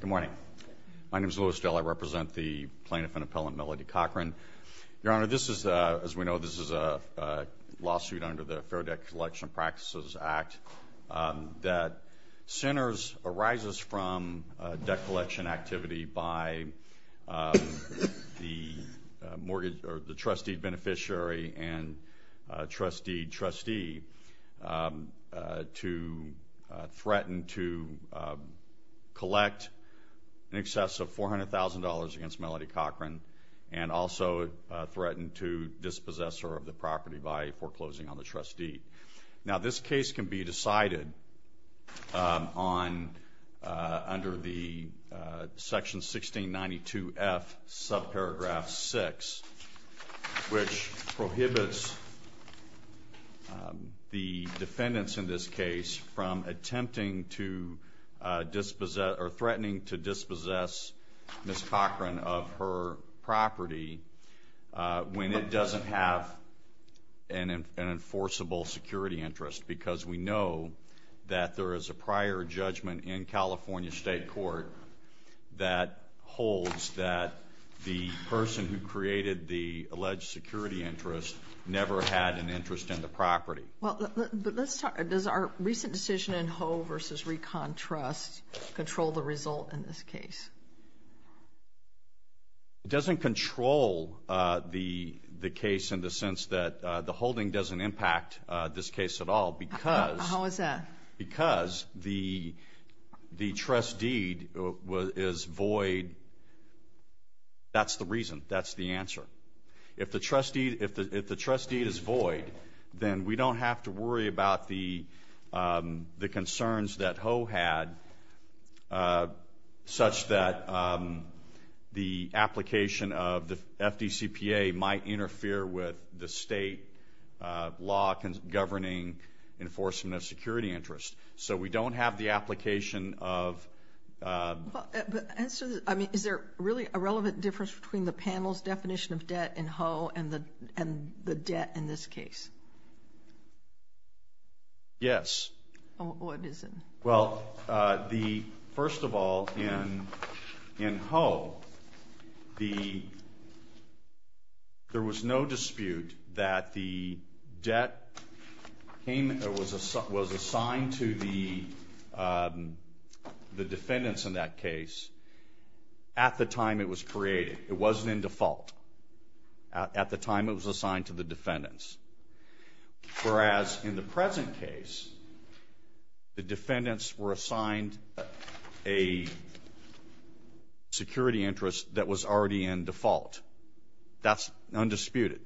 Good morning. My name is Louis Dell. I represent the plaintiff and appellant Melody Cochran. Your Honor, this is, as we know, this is a lawsuit under the Fair Debt Collection Practices Act that centers, arises from debt collection activity by the trustee beneficiary and trustee trustee to threaten to collect in excess of $400,000 against Melody Cochran and also threaten to dispossess her of the property by foreclosing on the trustee. Now this case can be decided on, under the section 1692F subparagraph 6 which prohibits the defendants in this case from attempting to dispossess or threatening to dispossess Ms. Cochran of her property when it doesn't have an enforceable security interest because we know that there is a prior judgment in California State Court that holds that the person who created the alleged security interest never had an interest in the property. Does our recent decision in Ho versus Recon Trust control the result in this case? It doesn't control the case in the sense that the holding doesn't impact this case at all because How is that? Because the trust deed is void. That's the reason. That's the answer. If the trust deed is void, then we don't have to worry about the concerns that Ho had such that the application of the FDCPA might interfere with the state law governing enforcement of security interest. So we don't have the application of Is there really a relevant difference between the panel's definition of debt in Ho and the debt in this case? Yes. What is it? Well, first of all, in Ho, there was no dispute that the debt was assigned to the defendants in that case at the time it was created. It wasn't in default at the time it was assigned to the defendants. Whereas in the present case, the defendants were assigned a security interest that was already in default. That's undisputed.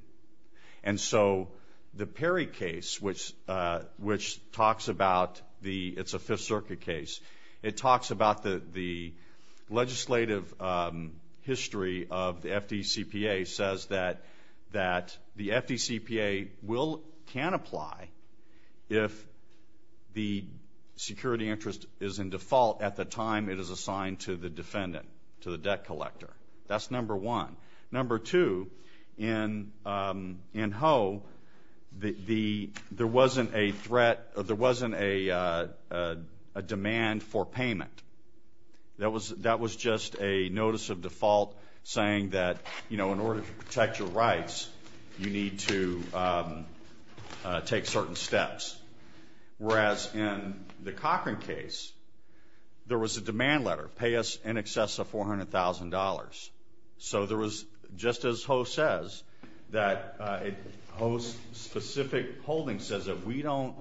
And so the Perry case, which talks about the legislative history of the FDCPA, says that the FDCPA can apply if the security interest is in default at the time it is assigned to the defendant, to the debt collector. That's number one. Number two, in Ho, there wasn't a demand for payment. That was just a notice of default saying that in order to protect your rights, you need to take certain steps. Whereas in the Cochran case, there was a demand letter, pay us in excess of $400,000. So there was, just as Ho says, Ho's specific holding says that we don't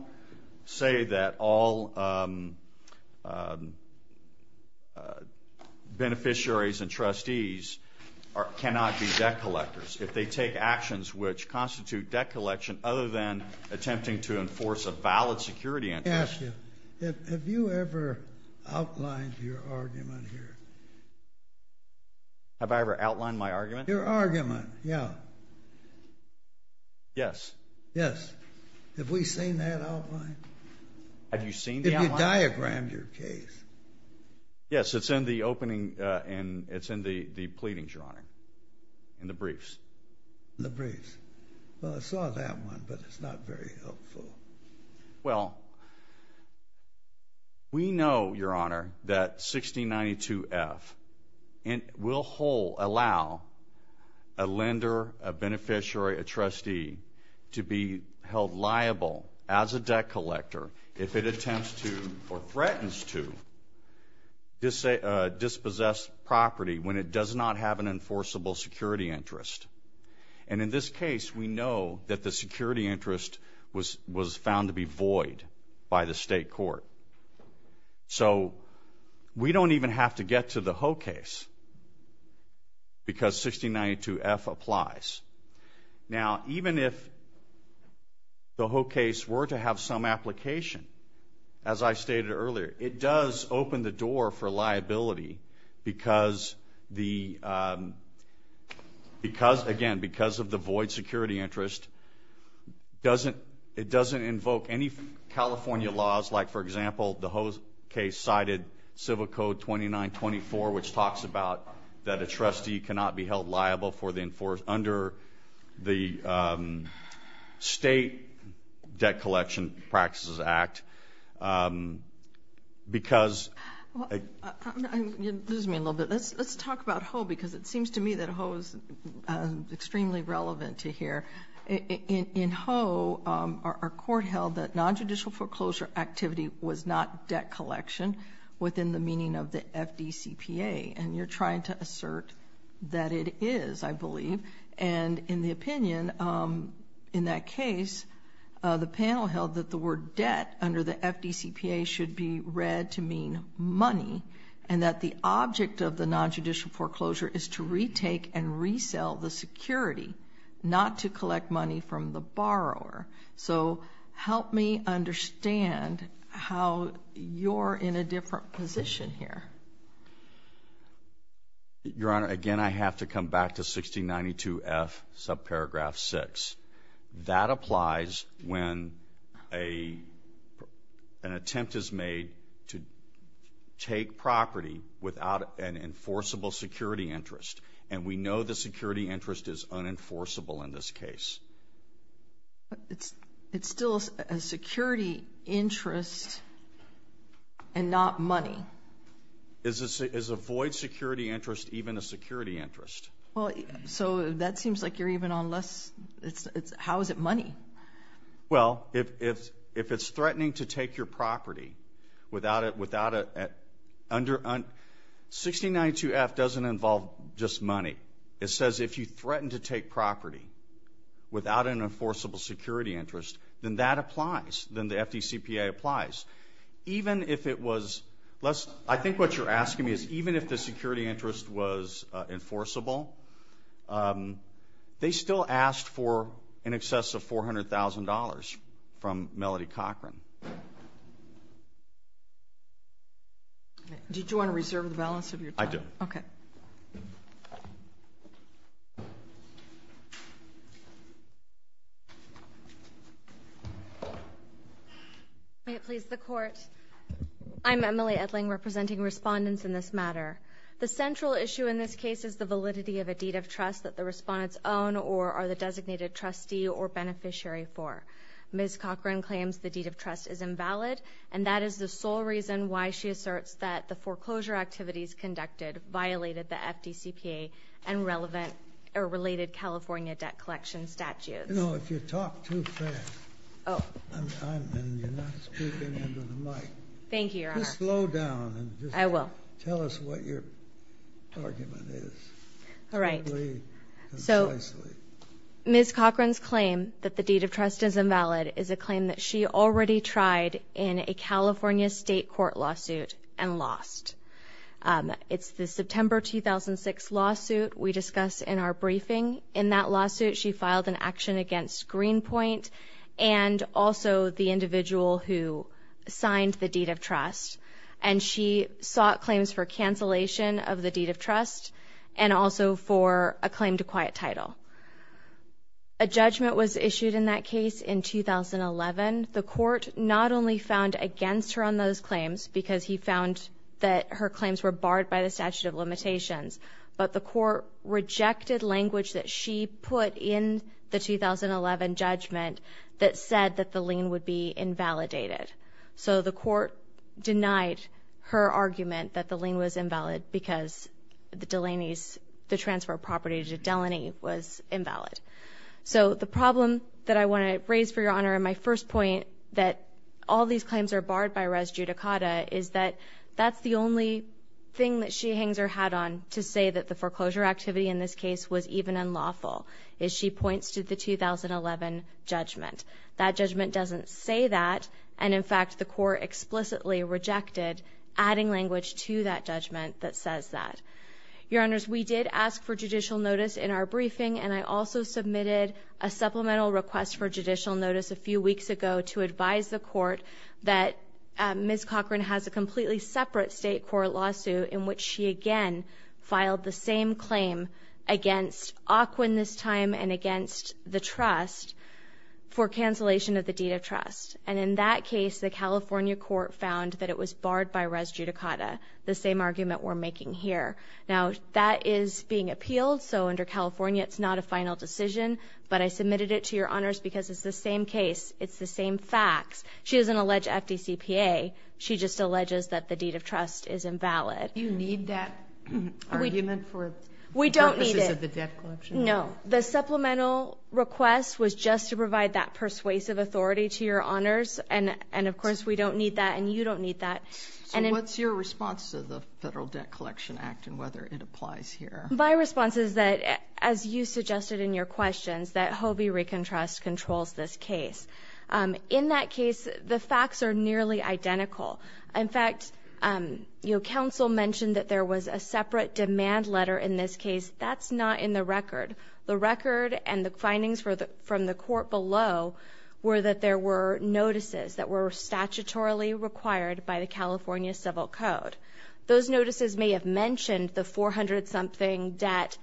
say that all beneficiaries and trustees cannot be debt collectors if they take actions which constitute debt collection other than attempting to enforce a valid security interest. Let me ask you, have you ever outlined your argument here? Have I ever outlined my argument? Your argument, yeah. Yes. Yes. Have we seen that outline? Have you seen the outline? Have you diagrammed your case? Yes, it's in the opening, and it's in the pleadings, Your Honor, in the briefs. In the briefs. Well, I saw that one, but it's not very helpful. Well, we know, Your Honor, that 1692F will allow a lender, a beneficiary, a trustee to be held liable as a debt collector if it attempts to or threatens to dispossess property when it does not have an enforceable security interest. And in this case, we know that the security interest was found to be void by the state court. So we don't even have to get to the Ho case because 1692F applies. Now, even if the Ho case were to have some application, as I stated earlier, it does open the door for liability because, again, because of the void security interest, it doesn't invoke any California laws like, for example, the Ho case cited Civil Code 2924, which talks about that a trustee cannot be held liable under the State Debt Collection Practices Act because... You're losing me a little bit. Let's talk about Ho because it seems to me that Ho is extremely relevant to here. In Ho, our court held that nonjudicial foreclosure activity was not debt collection within the meaning of the FDCPA. And you're trying to assert that it is, I believe. And in the opinion in that case, the panel held that the word debt under the FDCPA should be read to mean money and that the object of the nonjudicial foreclosure is to retake and resell the security, not to collect money from the borrower. So help me understand how you're in a different position here. Your Honor, again, I have to come back to 1692F, subparagraph 6. That applies when an attempt is made to take property without an enforceable security interest. And we know the security interest is unenforceable in this case. It's still a security interest and not money. Is a void security interest even a security interest? Well, so that seems like you're even on less. How is it money? Well, if it's threatening to take your property, 1692F doesn't involve just money. It says if you threaten to take property without an enforceable security interest, then that applies. Then the FDCPA applies. Even if it was less, I think what you're asking me is even if the security interest was enforceable, they still asked for in excess of $400,000 from Melody Cochran. Do you want to reserve the balance of your time? I do. Okay. May it please the Court. I'm Emily Edling, representing respondents in this matter. The central issue in this case is the validity of a deed of trust that the respondents own or are the designated trustee or beneficiary for. Ms. Cochran claims the deed of trust is invalid, and that is the sole reason why she asserts that the foreclosure activities conducted violated the FDCPA and related California debt collection statutes. You know, if you talk too fast and you're not speaking into the mic. Thank you, Your Honor. Just slow down. I will. Tell us what your argument is. All right. So Ms. Cochran's claim that the deed of trust is invalid is a claim that she already tried in a California state court lawsuit and lost. It's the September 2006 lawsuit we discussed in our briefing. In that lawsuit, she filed an action against Greenpoint and also the individual who signed the deed of trust, and she sought claims for cancellation of the deed of trust and also for a claim to quiet title. A judgment was issued in that case in 2011. The court not only found against her on those claims because he found that her claims were barred by the statute of limitations, but the court rejected language that she put in the 2011 judgment that said that the lien would be invalidated. So the court denied her argument that the lien was invalid because the transfer of property to Delany was invalid. So the problem that I want to raise for Your Honor in my first point, that all these claims are barred by res judicata, is that that's the only thing that she hangs her hat on to say that the foreclosure activity in this case was even unlawful, is she points to the 2011 judgment. That judgment doesn't say that, and in fact the court explicitly rejected adding language to that judgment that says that. Your Honors, we did ask for judicial notice in our briefing, and I also submitted a supplemental request for judicial notice a few weeks ago to advise the court that Ms. Cochran has a completely separate state court lawsuit in which she again filed the same claim against AQUIN this time And in that case the California court found that it was barred by res judicata, the same argument we're making here. Now that is being appealed, so under California it's not a final decision, but I submitted it to Your Honors because it's the same case, it's the same facts. She doesn't allege FDCPA, she just alleges that the deed of trust is invalid. Do you need that argument for purposes of the debt collection? We don't need it. No. The supplemental request was just to provide that persuasive authority to Your Honors, and of course we don't need that and you don't need that. So what's your response to the Federal Debt Collection Act and whether it applies here? My response is that, as you suggested in your questions, that Hobie Rican Trust controls this case. In that case the facts are nearly identical. In fact, you know, counsel mentioned that there was a separate demand letter in this case. That's not in the record. The record and the findings from the court below were that there were notices that were statutorily required by the California Civil Code. Those notices may have mentioned the 400-something debt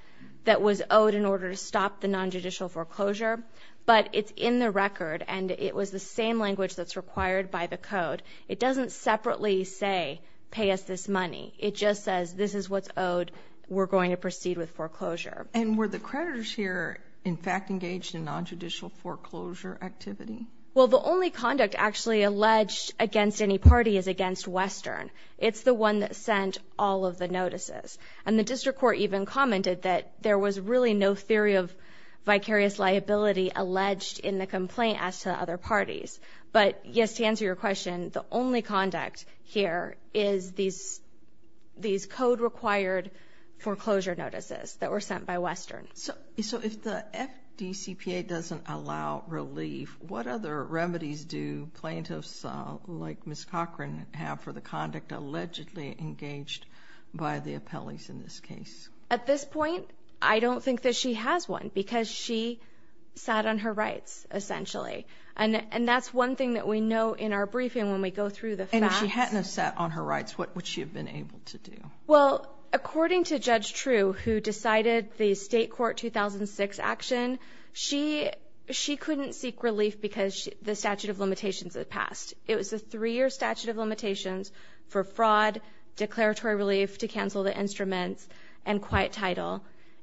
that was owed in order to stop the nonjudicial foreclosure, but it's in the record and it was the same language that's required by the code. It doesn't separately say, pay us this money. It just says this is what's owed. We're going to proceed with foreclosure. And were the creditors here, in fact, engaged in nonjudicial foreclosure activity? Well, the only conduct actually alleged against any party is against Western. It's the one that sent all of the notices. And the district court even commented that there was really no theory of vicarious liability alleged in the complaint as to the other parties. But, yes, to answer your question, the only conduct here is these code-required foreclosure notices that were sent by Western. So if the FDCPA doesn't allow relief, what other remedies do plaintiffs like Ms. Cochran have for the conduct allegedly engaged by the appellees in this case? At this point, I don't think that she has one because she sat on her rights, essentially. And that's one thing that we know in our briefing when we go through the facts. And if she hadn't have sat on her rights, what would she have been able to do? Well, according to Judge True, who decided the state court 2006 action, she couldn't seek relief because the statute of limitations had passed. It was a three-year statute of limitations for fraud, declaratory relief to cancel the instruments, and quiet title.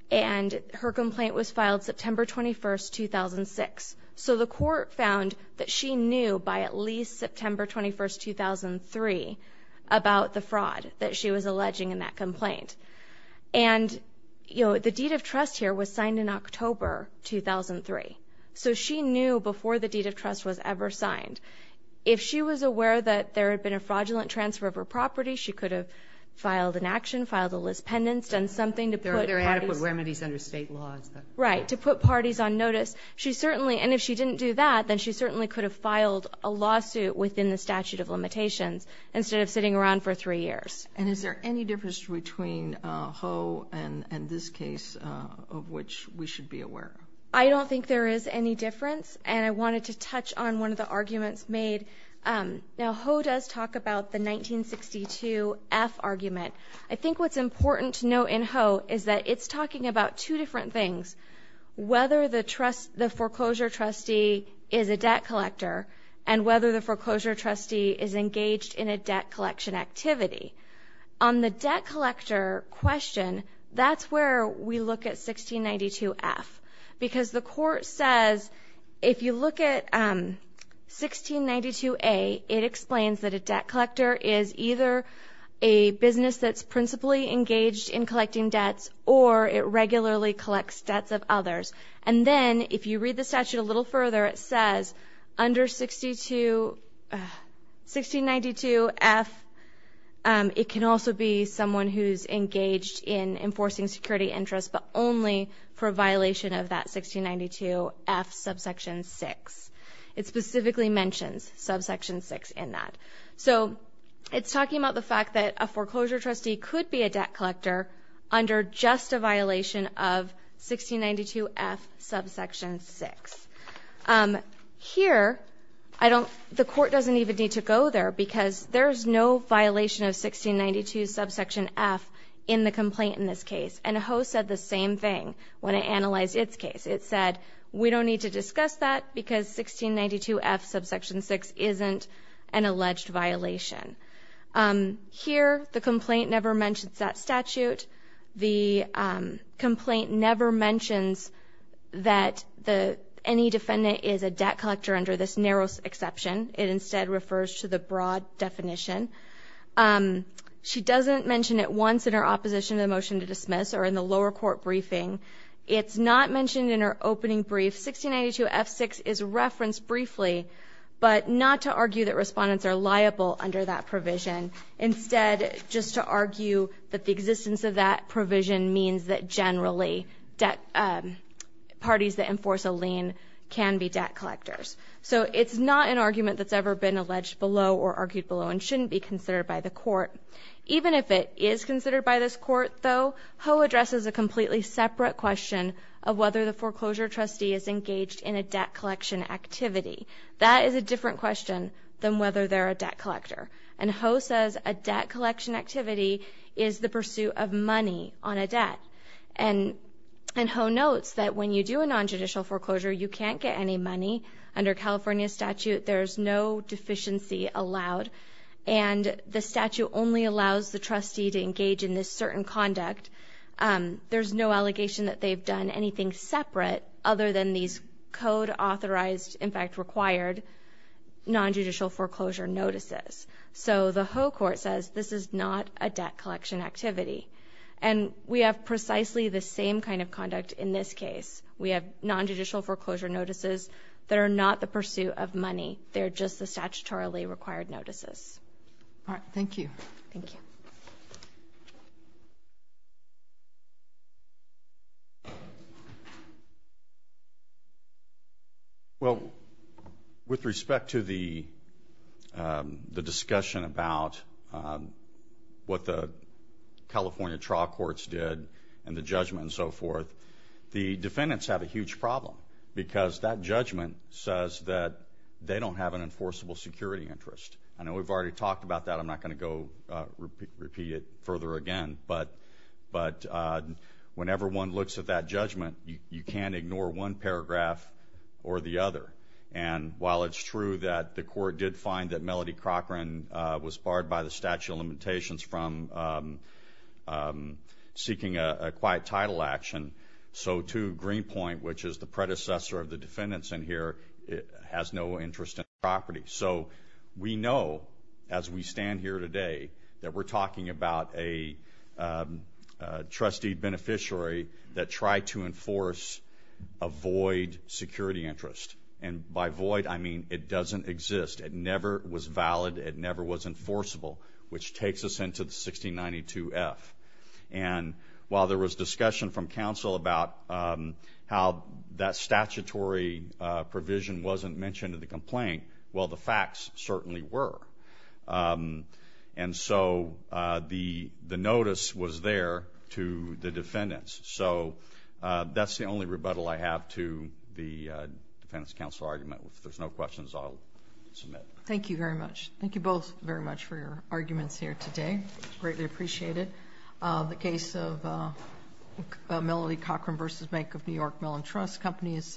And her complaint was filed September 21, 2006. So the court found that she knew by at least September 21, 2003, about the fraud that she was alleging in that complaint. And, you know, the deed of trust here was signed in October 2003. So she knew before the deed of trust was ever signed. If she was aware that there had been a fraudulent transfer of her property, she could have filed an action, filed a lis pendens, done something to put parties. There are adequate remedies under state laws. Right, to put parties on notice. She certainly, and if she didn't do that, then she certainly could have filed a lawsuit within the statute of limitations instead of sitting around for three years. And is there any difference between Ho and this case of which we should be aware? I don't think there is any difference. And I wanted to touch on one of the arguments made. Now, Ho does talk about the 1962 F argument. I think what's important to note in Ho is that it's talking about two different things. Whether the foreclosure trustee is a debt collector and whether the foreclosure trustee is engaged in a debt collection activity. On the debt collector question, that's where we look at 1692 F. Because the court says if you look at 1692 A, it explains that a debt collector is either a business that's principally engaged in collecting debts or it regularly collects debts of others. And then if you read the statute a little further, it says under 1692 F, it can also be someone who's engaged in enforcing security interests, but only for a violation of that 1692 F subsection 6. It specifically mentions subsection 6 in that. So it's talking about the fact that a foreclosure trustee could be a debt collector under just a violation of 1692 F subsection 6. Here, the court doesn't even need to go there because there's no violation of 1692 subsection F in the complaint in this case. And Ho said the same thing when it analyzed its case. It said we don't need to discuss that because 1692 F subsection 6 isn't an alleged violation. Here, the complaint never mentions that statute. The complaint never mentions that any defendant is a debt collector under this narrow exception. It instead refers to the broad definition. She doesn't mention it once in her opposition to the motion to dismiss or in the lower court briefing. It's not mentioned in her opening brief. 1692 F subsection 6 is referenced briefly, but not to argue that respondents are liable under that provision. Instead, just to argue that the existence of that provision means that, generally, parties that enforce a lien can be debt collectors. So it's not an argument that's ever been alleged below or argued below and shouldn't be considered by the court. Even if it is considered by this court, though, Ho addresses a completely separate question of whether the foreclosure trustee is engaged in a debt collection activity. That is a different question than whether they're a debt collector. And Ho says a debt collection activity is the pursuit of money on a debt. And Ho notes that when you do a nontraditional foreclosure, you can't get any money. Under California statute, there's no deficiency allowed. And the statute only allows the trustee to engage in this certain conduct. There's no allegation that they've done anything separate other than these code-authorized, in fact required, nondjudicial foreclosure notices. So the Ho court says this is not a debt collection activity. And we have precisely the same kind of conduct in this case. We have nondjudicial foreclosure notices that are not the pursuit of money. They're just the statutorily required notices. All right, thank you. Thank you. Well, with respect to the discussion about what the California trial courts did and the judgment and so forth, the defendants have a huge problem because that judgment says that they don't have an enforceable security interest. I know we've already talked about that. I'm not going to go repeat it further again. But whenever one looks at that judgment, you can't ignore one paragraph or the other. And while it's true that the court did find that Melody Cochran was barred by the statute of limitations from seeking a quiet title action, so too Greenpoint, which is the predecessor of the defendants in here, has no interest in the property. So we know as we stand here today that we're talking about a trustee beneficiary that tried to enforce a void security interest. And by void, I mean it doesn't exist. It never was valid. It never was enforceable. Which takes us into the 1692F. And while there was discussion from counsel about how that statutory provision wasn't mentioned in the complaint, well, the facts certainly were. And so the notice was there to the defendants. So that's the only rebuttal I have to the defendants' counsel argument. If there's no questions, I'll submit. Thank you very much. Thank you both very much for your arguments here today. Greatly appreciate it. The case of Melody Cochran v. Bank of New York Mellon Trust Company is